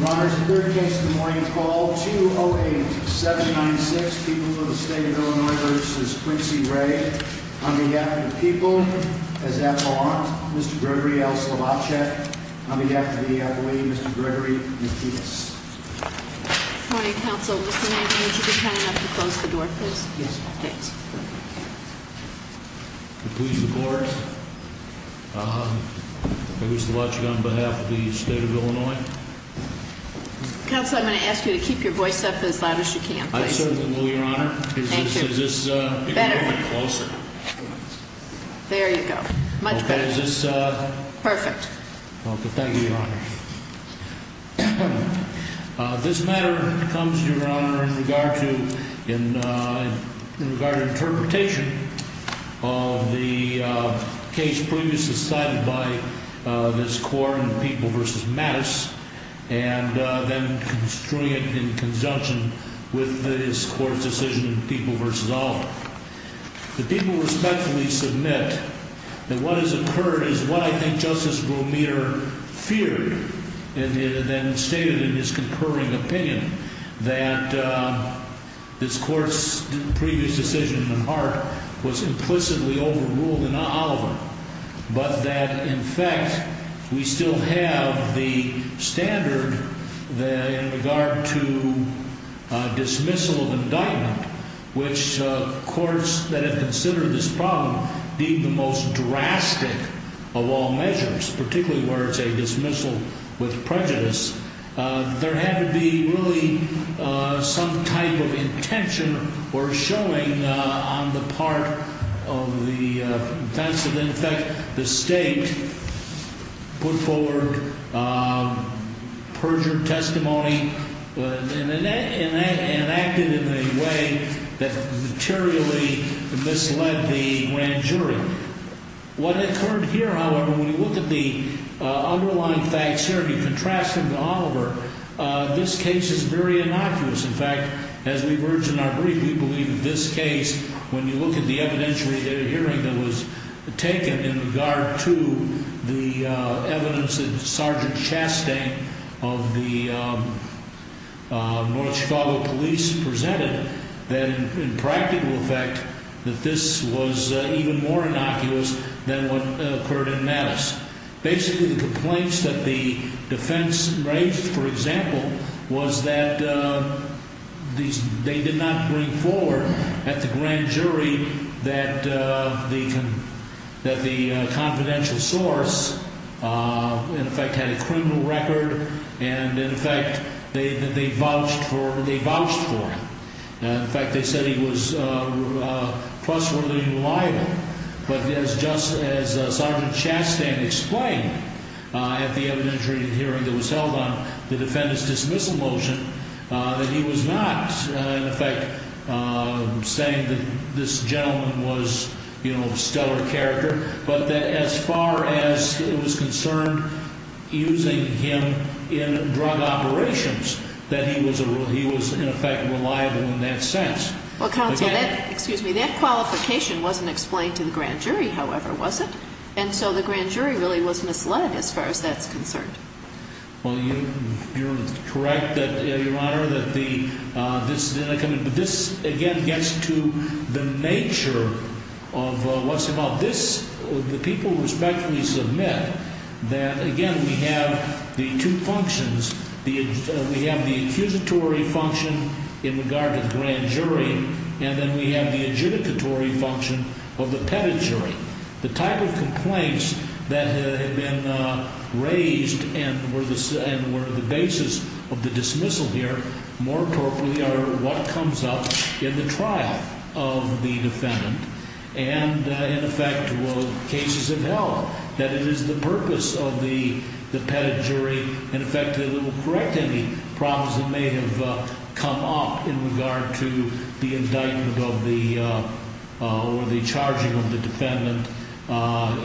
On behalf of the people, as that belongs, Mr. Gregory L. Slovacek. On behalf of the EEOA, Mr. Gregory Matias. Good morning, counsel. Mr. Nagle, would you be kind enough to close the door, please? Yes. Thanks. Please record. Mr. Slovacek, on behalf of the state of Illinois. Counsel, I'm going to ask you to keep your voice up as loud as you can, please. I certainly will, Your Honor. Thank you. Is this a little bit closer? Better. There you go. Much better. Okay. Is this a... Perfect. Okay. Thank you, Your Honor. This matter comes, Your Honor, in regard to interpretation of the case previously cited by this court in People v. Matias, and then construing it in conjunction with this court's decision in People v. Oliver. The people respectfully submit that what has occurred is what I think Justice Bromier feared, and then stated in his concurring opinion that this court's previous decision in the heart was implicitly overruled in Oliver, but that, in fact, we still have the standard in regard to dismissal of indictment, which courts that have considered this problem being the most drastic of all measures, particularly where it's a dismissal with prejudice, there had to be really some type of intention or showing on the part of the defense, and, in fact, the state put forward perjured testimony and acted in a way that materially misled the grand jury. What occurred here, however, when you look at the underlying facts here, and you contrast them to Oliver, this case is very innocuous. In fact, as we've urged in our brief, we believe that this case, when you look at the evidentiary hearing that was taken in regard to the evidence that Sergeant Chastain of the North Chicago Police presented, then, in practical effect, that this was even more innocuous than what occurred in Mattis. Basically, the complaints that the defense raised, for example, was that they did not bring forward at the grand jury that the confidential source, in fact, had a criminal record, and, in fact, they vouched for him. In fact, they said he was trustworthy and reliable, but just as Sergeant Chastain explained at the evidentiary hearing that was held on the defendant's dismissal motion, that he was not, in effect, saying that this gentleman was stellar character, but that as far as it was concerned using him in drug operations, that he was, in effect, reliable in that sense. Well, counsel, that qualification wasn't explained to the grand jury, however, was it? And so the grand jury really was misled as far as that's concerned. Well, you're correct, Your Honor, that this, again, gets to the nature of what's involved. This, the people respectfully submit that, again, we have the two functions. We have the accusatory function in regard to the grand jury, and then we have the adjudicatory function of the petted jury. The type of complaints that have been raised and were the basis of the dismissal here more appropriately are what comes up in the trial of the defendant, and, in effect, what cases have held, that it is the purpose of the petted jury, in effect, that it will correct any problems that may have come up in regard to the indictment or the charging of the defendant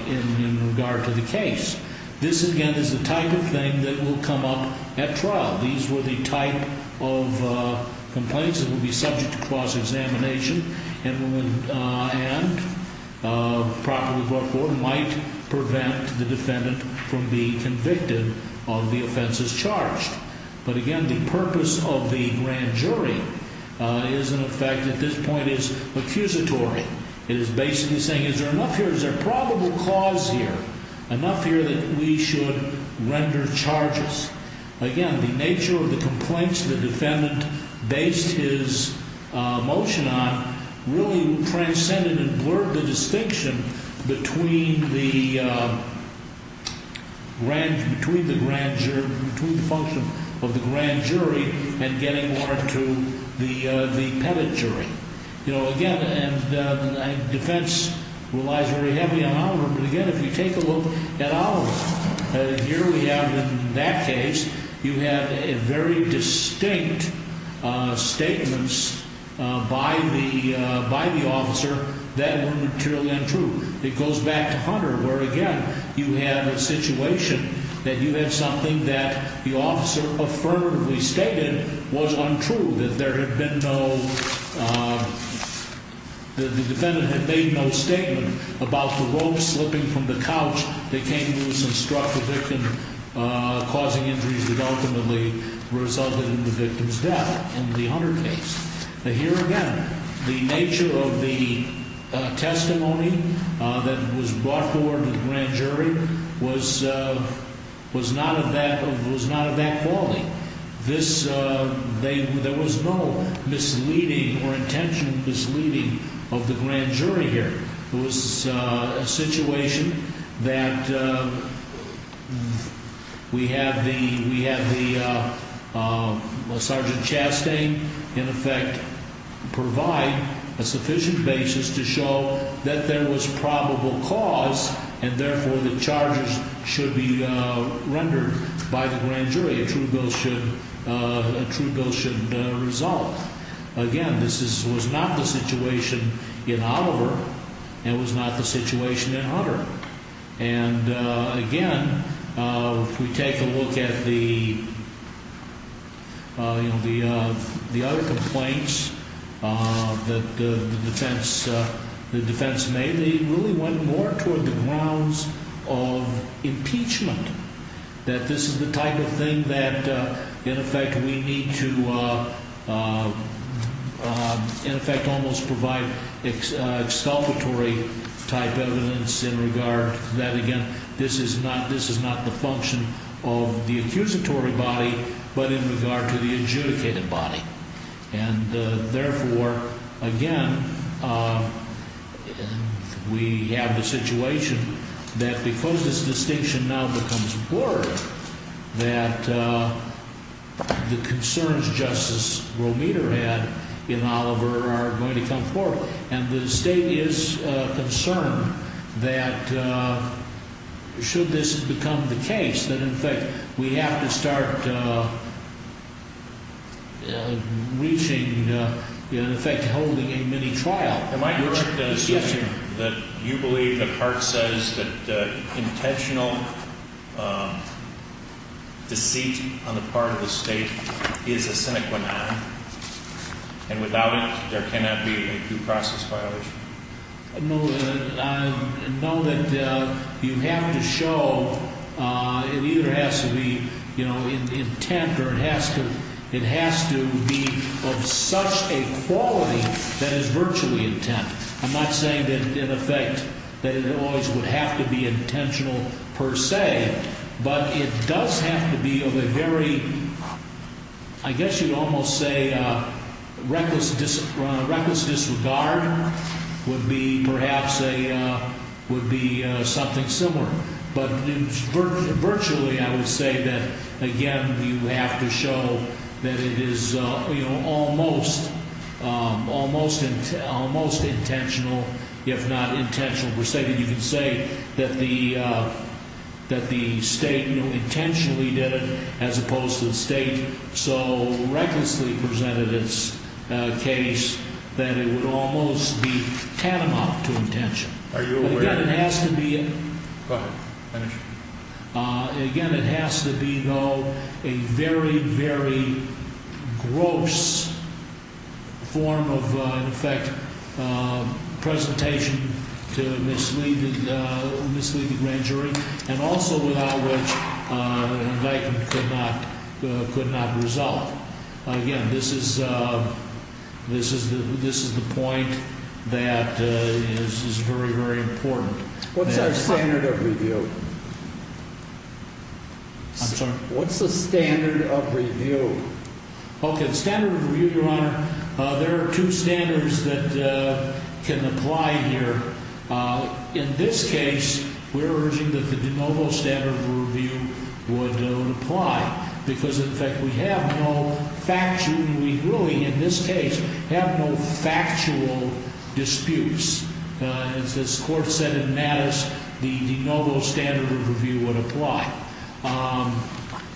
in regard to the case. This, again, is the type of thing that will come up at trial. These were the type of complaints that will be subject to cross-examination and, properly brought forth, might prevent the defendant from being convicted of the offenses charged. But, again, the purpose of the grand jury is, in effect, at this point, is accusatory. It is basically saying, is there enough here, is there a probable cause here, enough here that we should render charges? Again, the nature of the complaints the defendant based his motion on really transcended and blurred the distinction between the grand jury, between the function of the grand jury and getting water to the petted jury. You know, again, defense relies very heavily on Oliver, but, again, if you take a look at Oliver, here we have, in that case, you have very distinct statements by the officer that were materially untrue. It goes back to Hunter, where, again, you have a situation that you have something that the officer affirmatively stated was untrue, that there had been no, that the defendant had made no statement about the rope slipping from the couch that came loose and struck the victim, causing injuries that ultimately resulted in the victim's death in the Hunter case. But, here again, the nature of the testimony that was brought forward to the grand jury was not of that quality. This, there was no misleading or intentioned misleading of the grand jury here. It was a situation that we have the Sergeant Chastain, in effect, provide a sufficient basis to show that there was probable cause and, therefore, the charges should be rendered by the grand jury. A true bill should result. Again, this was not the situation in Oliver and was not the situation in Hunter. And, again, if we take a look at the other complaints that the defense made, they really went more toward the grounds of impeachment, that this is the type of thing that, in effect, we need to, in effect, almost provide exculpatory type evidence in regard to that. Again, this is not the function of the accusatory body, but in regard to the adjudicated body. And, therefore, again, we have the situation that because this distinction now becomes more, that the concerns Justice Romita had in Oliver are going to come forward. And the State is concerned that should this become the case, that, in effect, we have to start reaching, in effect, holding a mini-trial. Am I correct in assuming that you believe that Hart says that intentional deceit on the part of the State is a sine qua non, and without it, there cannot be a due process violation? No. I know that you have to show, it either has to be, you know, intent or it has to be of such a quality that is virtually intent. I'm not saying that, in effect, that it always would have to be intentional per se, but it does have to be of a very, I guess you'd almost say reckless disregard would be perhaps a, would be something similar. But, virtually, I would say that, again, you have to show that it is, you know, almost, almost intentional, if not intentional per se, that you can say that the State intentionally did it as opposed to the State so recklessly presented its case that it would almost be tantamount to intention. Are you aware of this? What's our standard of review? I'm sorry? What's the standard of review? Okay. The standard of review, Your Honor, there are two standards that can apply here. In this case, we're urging that the de novo standard of review would apply because, in fact, we have no factual, and we really, in this case, have no factual disputes. As this Court said in Mattis, the de novo standard of review would apply.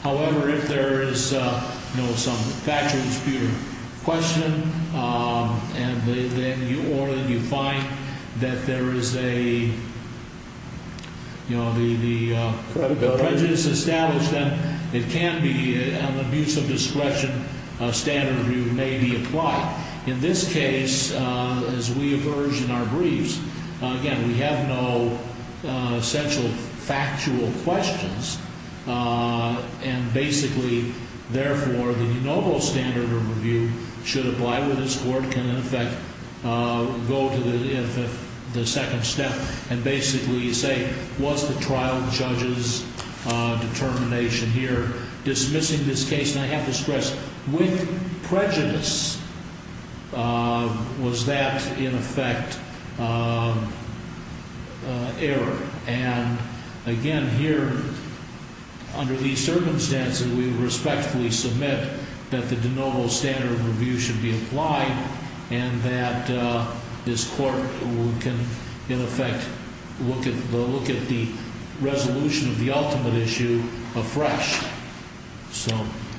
However, if there is, you know, some factual dispute or question, or you find that there is a, you know, the prejudice established, then it can be an abuse of discretion standard of review may be applied. In this case, as we have urged in our briefs, again, we have no essential factual questions, and basically, therefore, the de novo standard of review should apply where this Court can, in effect, go to the second step and basically say, was the trial judge's determination here dismissing this case? And I have to stress, with prejudice, was that, in effect, error. And, again, here, under these circumstances, we respectfully submit that the de novo standard of review should be applied and that this Court can, in effect, look at the resolution of the ultimate issue afresh.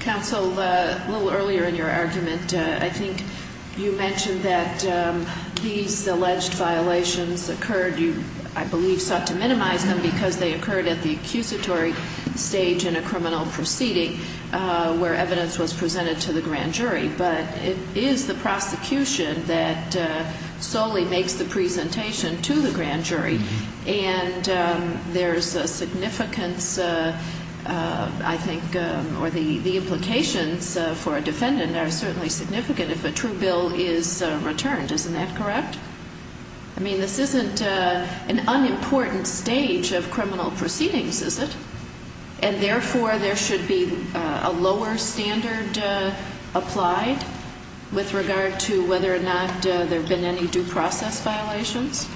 Counsel, a little earlier in your argument, I think you mentioned that these alleged violations occurred. You, I believe, sought to minimize them because they occurred at the accusatory stage in a criminal proceeding where evidence was presented to the grand jury. But it is the prosecution that solely makes the presentation to the grand jury. And there's a significance, I think, or the implications for a defendant are certainly significant if a true bill is returned. Isn't that correct? I mean, this isn't an unimportant stage of criminal proceedings, is it? And, therefore, there should be a lower standard applied with regard to whether or not there have been any due process violations?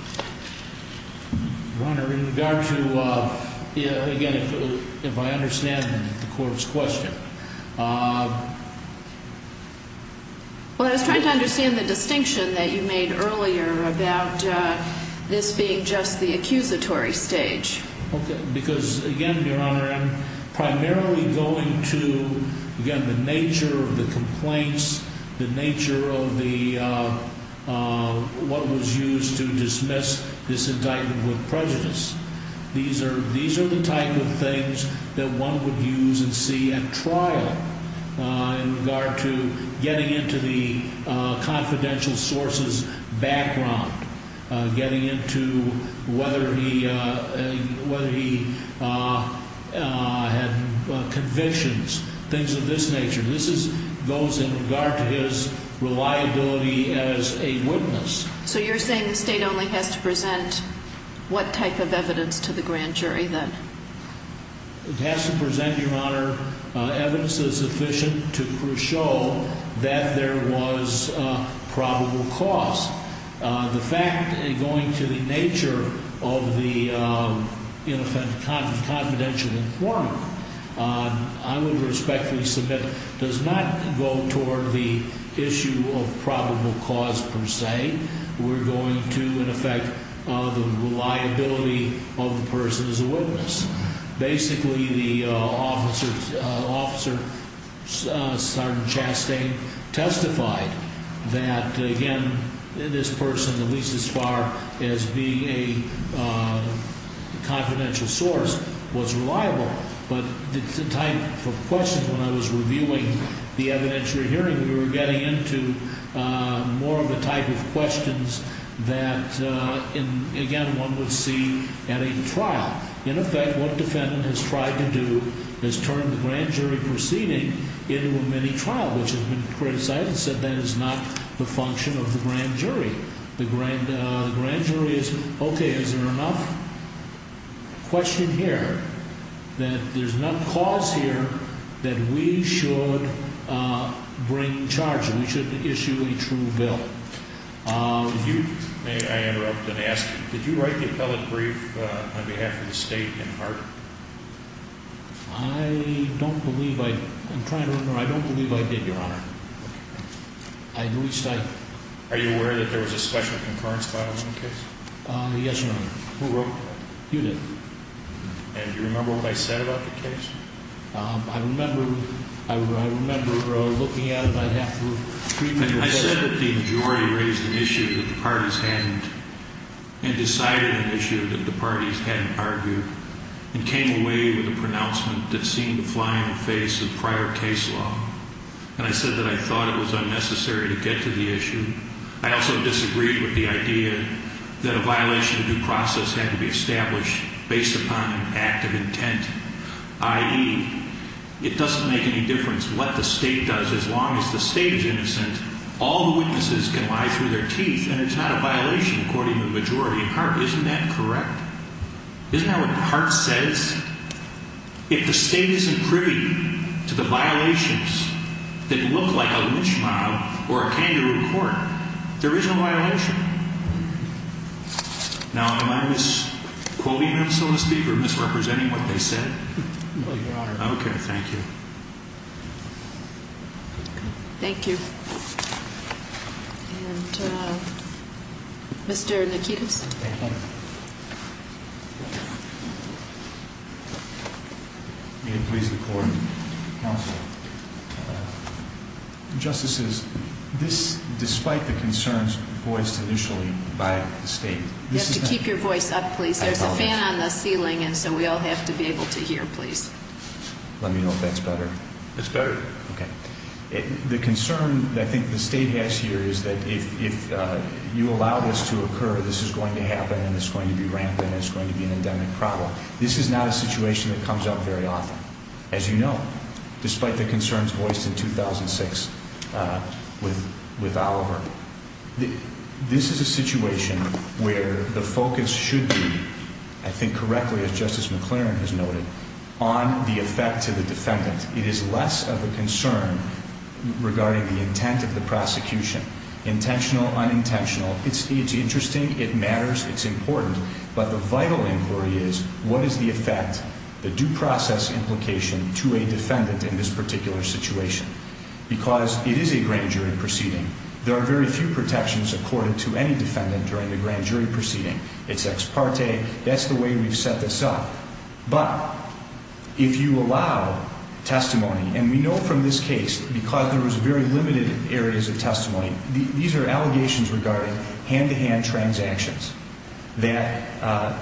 Your Honor, in regard to, again, if I understand the Court's question. Well, I was trying to understand the distinction that you made earlier about this being just the accusatory stage. Okay. Because, again, Your Honor, I'm primarily going to, again, the nature of the complaints, the nature of what was used to dismiss this indictment with prejudice. These are the type of things that one would use and see at trial in regard to getting into the confidential sources background, getting into whether he had convictions, things of this nature. This goes in regard to his reliability as a witness. So you're saying the State only has to present what type of evidence to the grand jury, then? It has to present, Your Honor, evidence that is sufficient to show that there was probable cause. The fact, going to the nature of the confidential form, I would respectfully submit, does not go toward the issue of probable cause, per se. We're going to, in effect, the reliability of the person as a witness. Basically, the officer, Sergeant Chastain, testified that, again, this person, at least as far as being a confidential source, was reliable. But the type of questions, when I was reviewing the evidence you're hearing, we were getting into more of the type of questions that, again, one would see at a trial. In effect, what a defendant has tried to do is turn the grand jury proceeding into a mini-trial, which has been criticized and said that is not the function of the grand jury. The grand jury is, okay, is there enough question here that there's enough cause here that we should bring charges, we should issue a true bill. If you may, I interrupt and ask, did you write the appellate brief on behalf of the state in Hart? I don't believe I did, Your Honor. Are you aware that there was a special concurrence file in the case? Yes, Your Honor. Who wrote that? You did. And do you remember what I said about the case? I said that the majority raised an issue that the parties hadn't and decided an issue that the parties hadn't argued and came away with a pronouncement that seemed to fly in the face of prior case law. And I said that I thought it was unnecessary to get to the issue. I also disagreed with the idea that a violation of due process had to be established based upon an act of intent, i.e., it doesn't make any difference what the state does as long as the state is innocent. All the witnesses can lie through their teeth and it's not a violation according to the majority in Hart. Isn't that correct? Isn't that what Hart says? If the state isn't privy to the violations that look like a lynch mob or a kangaroo court, there is no violation. Now, am I misquoting them, so to speak, or misrepresenting what they said? No, Your Honor. Okay, thank you. Thank you. And Mr. Nikitos. Thank you. May it please the Court and counsel. Justices, this, despite the concerns voiced initially by the state. You have to keep your voice up, please. There's a fan on the ceiling and so we all have to be able to hear, please. Let me know if that's better. It's better. Okay. The concern I think the state has here is that if you allow this to occur, this is going to happen and it's going to be rampant and it's going to be an endemic problem. This is not a situation that comes up very often, as you know, despite the concerns voiced in 2006 with Oliver. This is a situation where the focus should be, I think correctly as Justice McClaren has noted, on the effect to the defendant. It is less of a concern regarding the intent of the prosecution. Intentional, unintentional. It's interesting. It matters. It's important. But the vital inquiry is what is the effect, the due process implication to a defendant in this particular situation? Because it is a grand jury proceeding. There are very few protections according to any defendant during the grand jury proceeding. It's ex parte. That's the way we've set this up. But if you allow testimony, and we know from this case because there was very limited areas of testimony, these are allegations regarding hand-to-hand transactions, that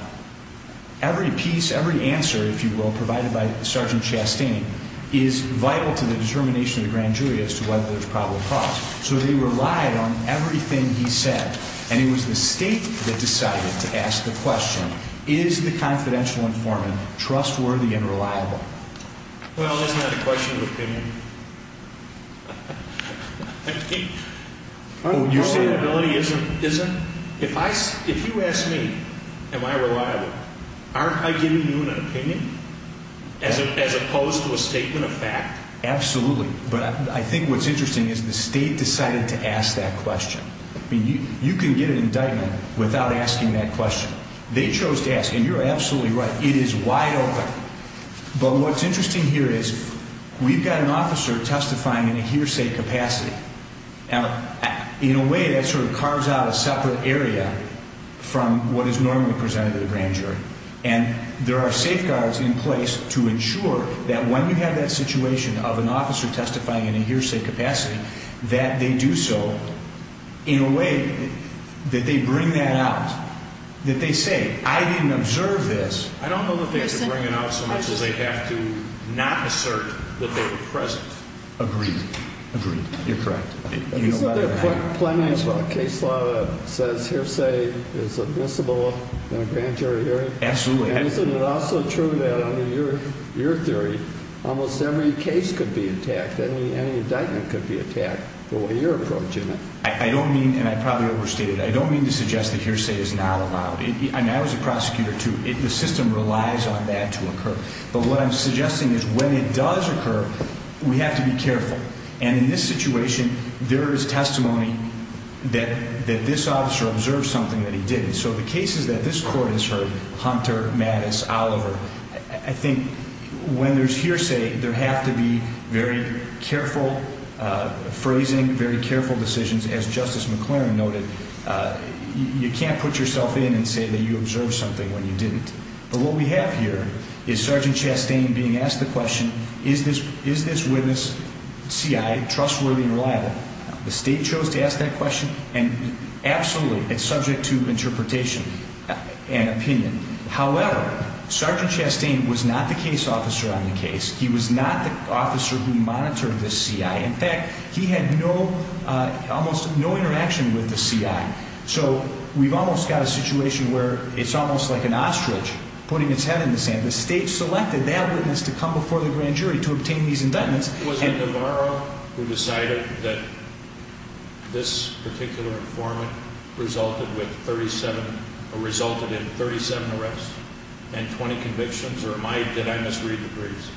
every piece, every answer, if you will, provided by Sergeant Chastain is vital to the determination of the grand jury as to whether there's probable cause. So they relied on everything he said. And it was the State that decided to ask the question, is the confidential informant trustworthy and reliable? Well, isn't that a question of opinion? I think... Your state ability isn't? If you ask me, am I reliable, aren't I giving you an opinion as opposed to a statement of fact? Absolutely. But I think what's interesting is the State decided to ask that question. I mean, you can get an indictment without asking that question. They chose to ask, and you're absolutely right, it is wide open. But what's interesting here is we've got an officer testifying in a hearsay capacity. Now, in a way, that sort of carves out a separate area from what is normally presented at a grand jury. And there are safeguards in place to ensure that when you have that situation of an officer testifying in a hearsay capacity, that they do so in a way that they bring that out, that they say, I didn't observe this. I don't know that they could bring it out so much as they have to not assert that they were present. Agreed. Agreed. You're correct. Isn't there plenty of case law that says hearsay is admissible in a grand jury hearing? Absolutely. And isn't it also true that under your theory, almost every case could be attacked, any indictment could be attacked, the way you're approaching it? I don't mean, and I probably overstated it, I don't mean to suggest that hearsay is not allowed. I mean, I was a prosecutor, too. The system relies on that to occur. But what I'm suggesting is when it does occur, we have to be careful. And in this situation, there is testimony that this officer observed something that he didn't. So the cases that this court has heard, Hunter, Mattis, Oliver, I think when there's hearsay, there have to be very careful phrasing, very careful decisions. As Justice McLaren noted, you can't put yourself in and say that you observed something when you didn't. But what we have here is Sergeant Chastain being asked the question, is this witness, C.I., trustworthy and reliable? The state chose to ask that question, and absolutely, it's subject to interpretation and opinion. However, Sergeant Chastain was not the case officer on the case. He was not the officer who monitored the C.I. In fact, he had no, almost no interaction with the C.I. So we've almost got a situation where it's almost like an ostrich putting its head in the sand. The state selected that witness to come before the grand jury to obtain these indictments. Was it Navarro who decided that this particular informant resulted in 37 arrests and 20 convictions, or did I misread the briefs?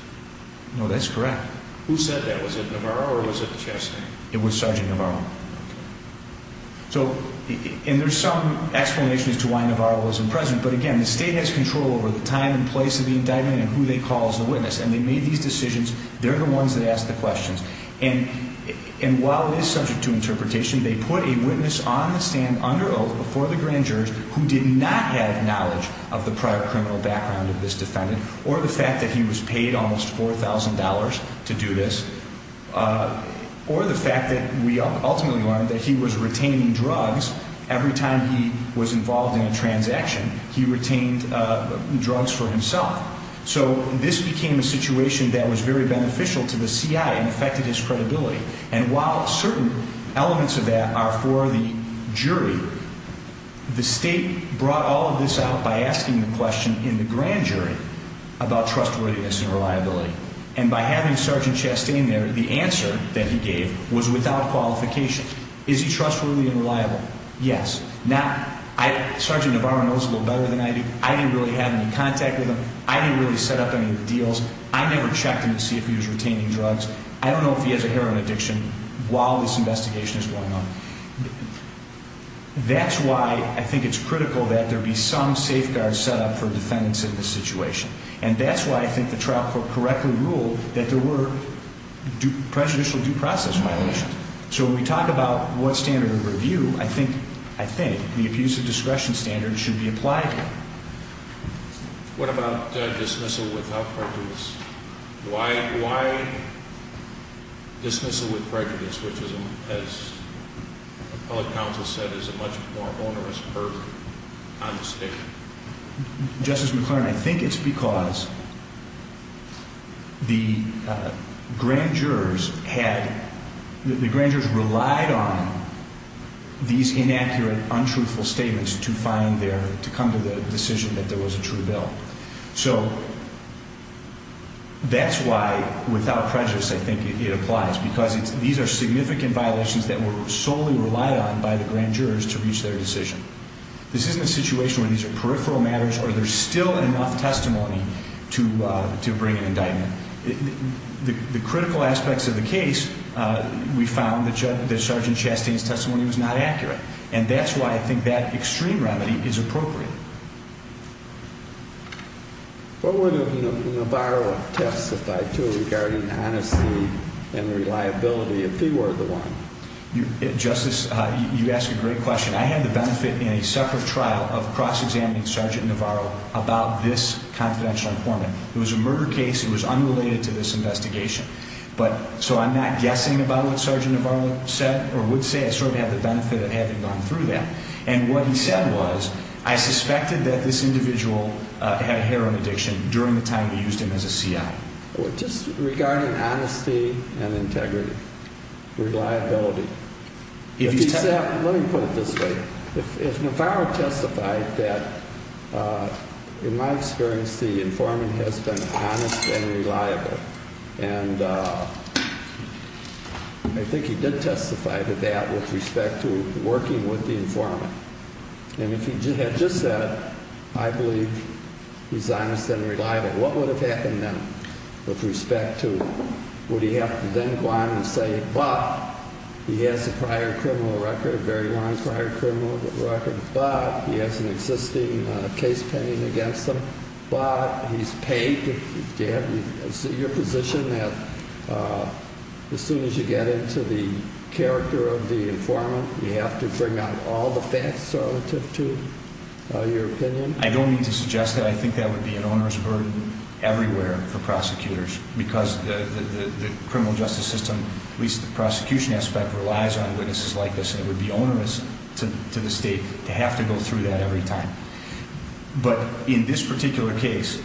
No, that's correct. Who said that? Was it Navarro or was it Chastain? It was Sergeant Navarro. So, and there's some explanation as to why Navarro wasn't present. But again, the state has control over the time and place of the indictment and who they call as the witness. And they made these decisions. They're the ones that asked the questions. And while it is subject to interpretation, they put a witness on the stand under oath before the grand jury who did not have knowledge of the prior criminal background of this defendant or the fact that he was paid almost $4,000 to do this or the fact that we ultimately learned that he was retaining drugs every time he was involved in a transaction. He retained drugs for himself. So this became a situation that was very beneficial to the CI and affected his credibility. And while certain elements of that are for the jury, the state brought all of this out by asking the question in the grand jury about trustworthiness and reliability. And by having Sergeant Chastain there, the answer that he gave was without qualification. Is he trustworthy and reliable? Yes. Now, Sergeant Navarro knows a little better than I do. I didn't really have any contact with him. I didn't really set up any of the deals. I never checked him to see if he was retaining drugs. I don't know if he has a heroin addiction while this investigation is going on. That's why I think it's critical that there be some safeguards set up for defendants in this situation. And that's why I think the trial court correctly ruled that there were prejudicial due process violations. So when we talk about what standard of review, I think the abuse of discretion standard should be applied here. What about dismissal without prejudice? Why dismissal with prejudice, which, as appellate counsel said, is a much more onerous burden on the state? Justice McClernand, I think it's because the grand jurors relied on these inaccurate, untruthful statements to come to the decision that there was a true bill. So that's why without prejudice I think it applies. Because these are significant violations that were solely relied on by the grand jurors to reach their decision. This isn't a situation where these are peripheral matters or there's still enough testimony to bring an indictment. The critical aspects of the case, we found that Sgt. Chastain's testimony was not accurate. And that's why I think that extreme remedy is appropriate. What would Navarro have testified to regarding honesty and reliability if he were the one? Justice, you ask a great question. I had the benefit in a separate trial of cross-examining Sgt. Navarro about this confidential informant. It was a murder case. It was unrelated to this investigation. So I'm not guessing about what Sgt. Navarro said or would say. I sort of have the benefit of having gone through that. And what he said was, I suspected that this individual had a heroin addiction during the time he used him as a C.I. Just regarding honesty and integrity, reliability. Let me put it this way. If Navarro testified that, in my experience, the informant has been honest and reliable. And I think he did testify to that with respect to working with the informant. And if he had just said, I believe he's honest and reliable, what would have happened then? With respect to, would he have to then go on and say, but he has a prior criminal record, a very long prior criminal record. But he has an existing case pending against him. But he's paid. Do you have your position that as soon as you get into the character of the informant, you have to bring out all the facts relative to your opinion? I don't mean to suggest that. I think that would be an onerous burden everywhere for prosecutors. Because the criminal justice system, at least the prosecution aspect, relies on witnesses like this. And it would be onerous to the State to have to go through that every time. But in this particular case,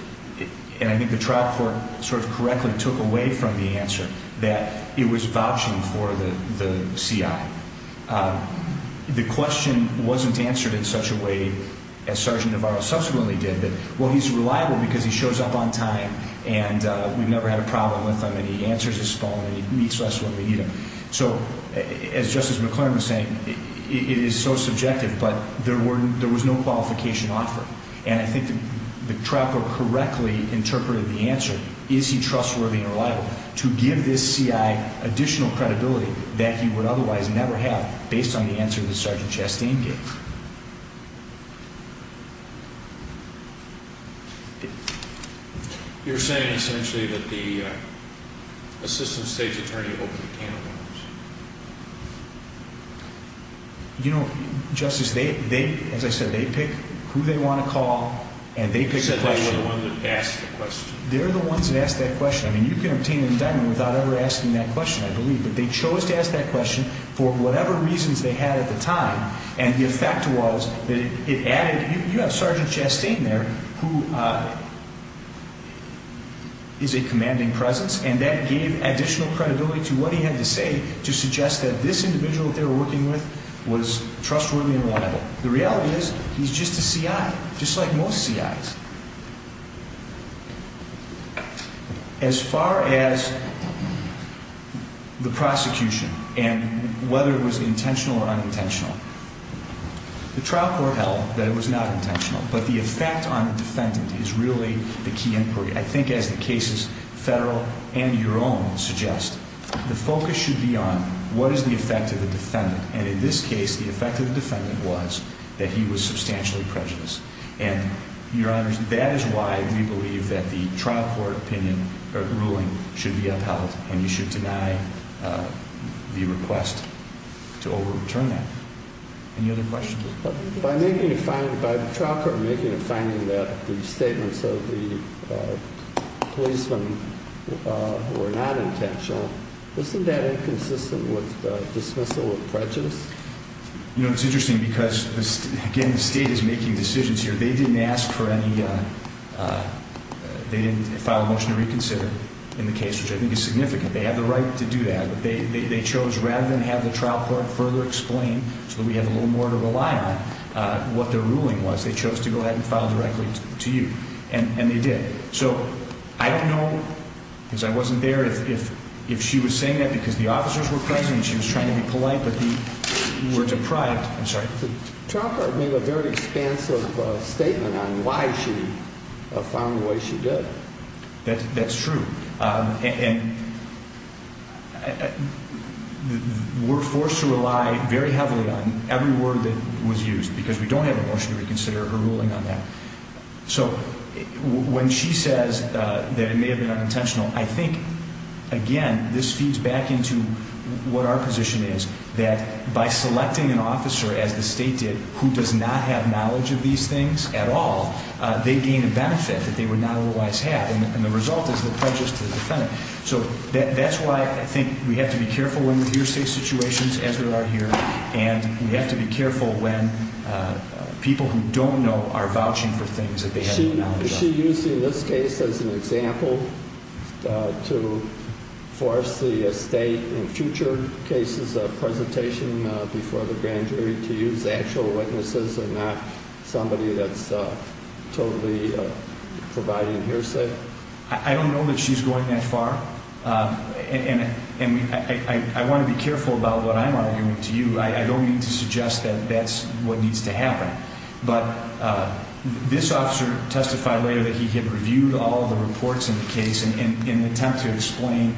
and I think the trial court sort of correctly took away from the answer, that it was vouching for the C.I. The question wasn't answered in such a way as Sergeant Navarro subsequently did. Well, he's reliable because he shows up on time, and we've never had a problem with him, and he answers his phone, and he meets us when we need him. So, as Justice McClernand was saying, it is so subjective. But there was no qualification offered. And I think the trial court correctly interpreted the answer. Is he trustworthy and reliable to give this C.I. additional credibility that he would otherwise never have based on the answer that Sergeant Chastain gave? You're saying, essentially, that the Assistant State's Attorney opened a can of worms? You know, Justice, as I said, they pick who they want to call, and they pick the question. They're the ones that ask that question. I mean, you can obtain an indictment without ever asking that question, I believe. But they chose to ask that question for whatever reasons they had at the time. And the effect was that it added – you have Sergeant Chastain there, who is a commanding presence, and that gave additional credibility to what he had to say to suggest that this individual that they were working with was trustworthy and reliable. The reality is, he's just a C.I., just like most C.I.s. As far as the prosecution and whether it was intentional or unintentional, the trial court held that it was not intentional. But the effect on the defendant is really the key inquiry. I think, as the cases, federal and your own, suggest, the focus should be on what is the effect of the defendant. And in this case, the effect of the defendant was that he was substantially prejudiced. And, Your Honors, that is why we believe that the trial court opinion or ruling should be upheld, and you should deny the request to overturn that. Any other questions? By the trial court making a finding that the statements of the policemen were not intentional, isn't that inconsistent with dismissal of prejudice? You know, it's interesting because, again, the State is making decisions here. They didn't ask for any – they didn't file a motion to reconsider in the case, which I think is significant. They have the right to do that, but they chose, rather than have the trial court further explain so that we have a little more to rely on, what their ruling was, they chose to go ahead and file directly to you, and they did. So I don't know, because I wasn't there, if she was saying that because the officers were present and she was trying to be polite, but we were deprived – I'm sorry? The trial court made a very expansive statement on why she found the way she did. That's true. And we're forced to rely very heavily on every word that was used because we don't have a motion to reconsider her ruling on that. So when she says that it may have been unintentional, I think, again, this feeds back into what our position is, that by selecting an officer, as the State did, who does not have knowledge of these things at all, they gain a benefit that they would not otherwise have, and the result is the prejudice to the defendant. So that's why I think we have to be careful when we hear state situations, as we are here, and we have to be careful when people who don't know are vouching for things that they have no knowledge of. Is she using this case as an example to force the State, in future cases of presentation before the grand jury, to use actual witnesses and not somebody that's totally providing hearsay? I don't know that she's going that far, and I want to be careful about what I'm arguing to you. I don't mean to suggest that that's what needs to happen. But this officer testified later that he had reviewed all of the reports in the case in an attempt to explain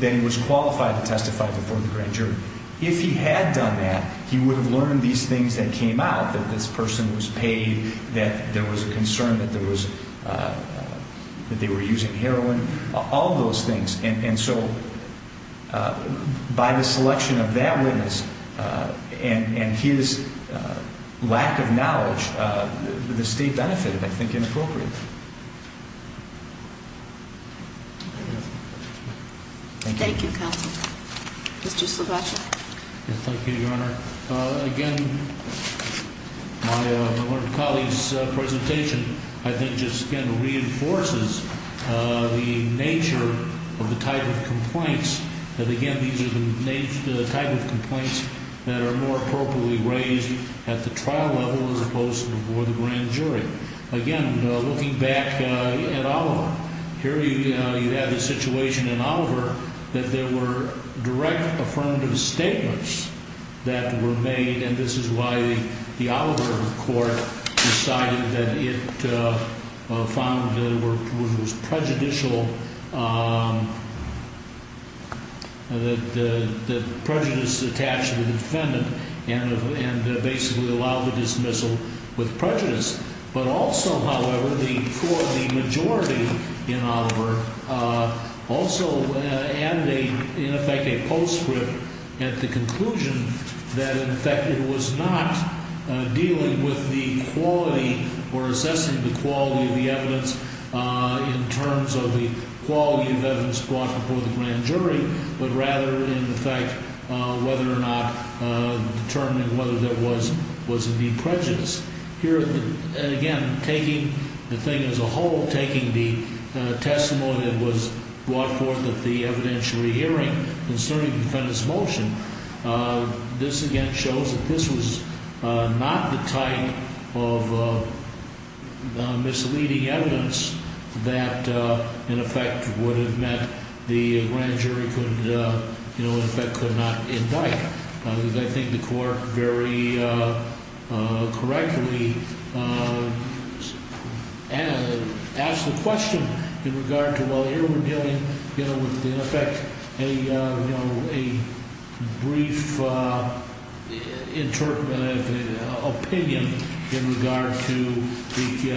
that he was qualified to testify before the grand jury. If he had done that, he would have learned these things that came out, that this person was paid, that there was a concern that they were using heroin, all of those things. And so by the selection of that witness and his lack of knowledge, the State benefited, I think, inappropriately. Thank you, counsel. Mr. Sloboda? Thank you, Your Honor. Again, my colleague's presentation, I think, just again reinforces the nature of the type of complaints. And again, these are the type of complaints that are more appropriately raised at the trial level as opposed to before the grand jury. Again, looking back at Oliver, here you have the situation in Oliver that there were direct affirmative statements that were made, and this is why the Oliver court decided that it found that it was prejudicial, that prejudice attached to the defendant and basically allowed the dismissal with prejudice. But also, however, the majority in Oliver also added, in effect, a postscript at the conclusion that, in effect, it was not dealing with the quality or assessing the quality of the evidence in terms of the quality of evidence brought before the grand jury, but rather, in effect, whether or not determining whether there was indeed prejudice. Here, again, taking the thing as a whole, taking the testimony that was brought forth at the evidentiary hearing concerning the defendant's motion, this again shows that this was not the type of misleading evidence that, in effect, would have meant the grand jury could, in effect, could not indict, because I think the court very correctly asked the question in regard to, well, here we're dealing with, in effect, a brief opinion in regard to the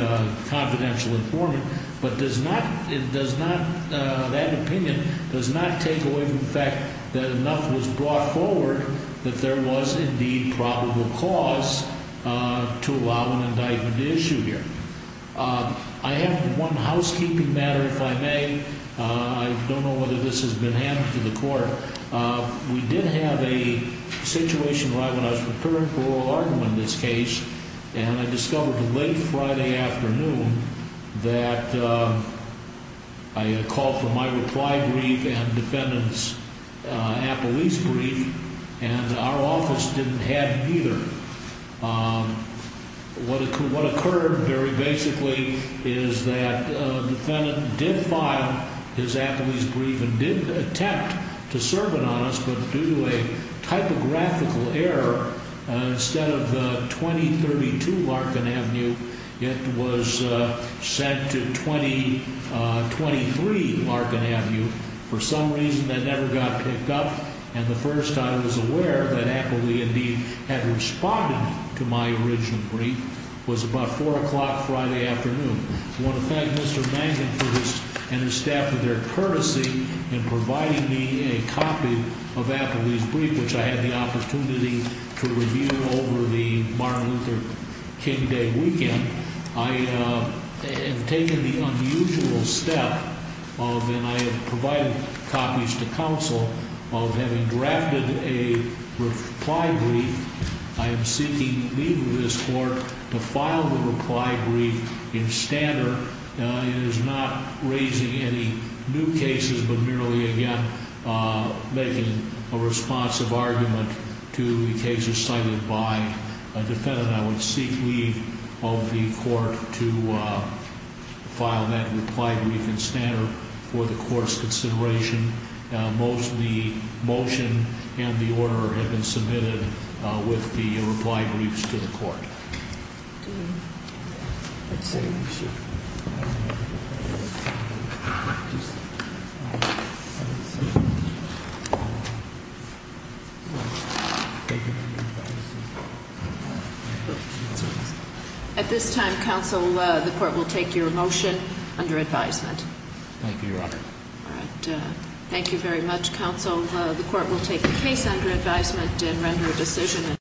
confidential informant, but that opinion does not take away from the fact that enough was brought forward that there was indeed probable cause to allow an indictment to issue here. I have one housekeeping matter, if I may. I don't know whether this has been handed to the court. We did have a situation right when I was preparing for oral argument in this case, and I discovered late Friday afternoon that I had a call for my reply brief and the defendant's appellee's brief, and our office didn't have either. What occurred very basically is that the defendant did file his appellee's brief and did attempt to serve it on us, but due to a typographical error, instead of 2032 Larkin Avenue, it was sent to 2023 Larkin Avenue. For some reason, that never got picked up, and the first I was aware that appellee indeed had responded to my original brief was about 4 o'clock Friday afternoon. I want to thank Mr. Mangan for this and his staff for their courtesy in providing me a copy of appellee's brief, which I had the opportunity to review over the Martin Luther King Day weekend. I have taken the unusual step of, and I have provided copies to counsel, of having drafted a reply brief. I am seeking leave of this court to file the reply brief in standard. It is not raising any new cases, but merely again making a responsive argument to the cases cited by a defendant. I would seek leave of the court to file that reply brief in standard for the court's consideration. Most of the motion and the order have been submitted with the reply briefs to the court. At this time, counsel, the court will take your motion under advisement. Thank you, Your Honor. Thank you very much, counsel. The court will take the case under advisement and render a decision.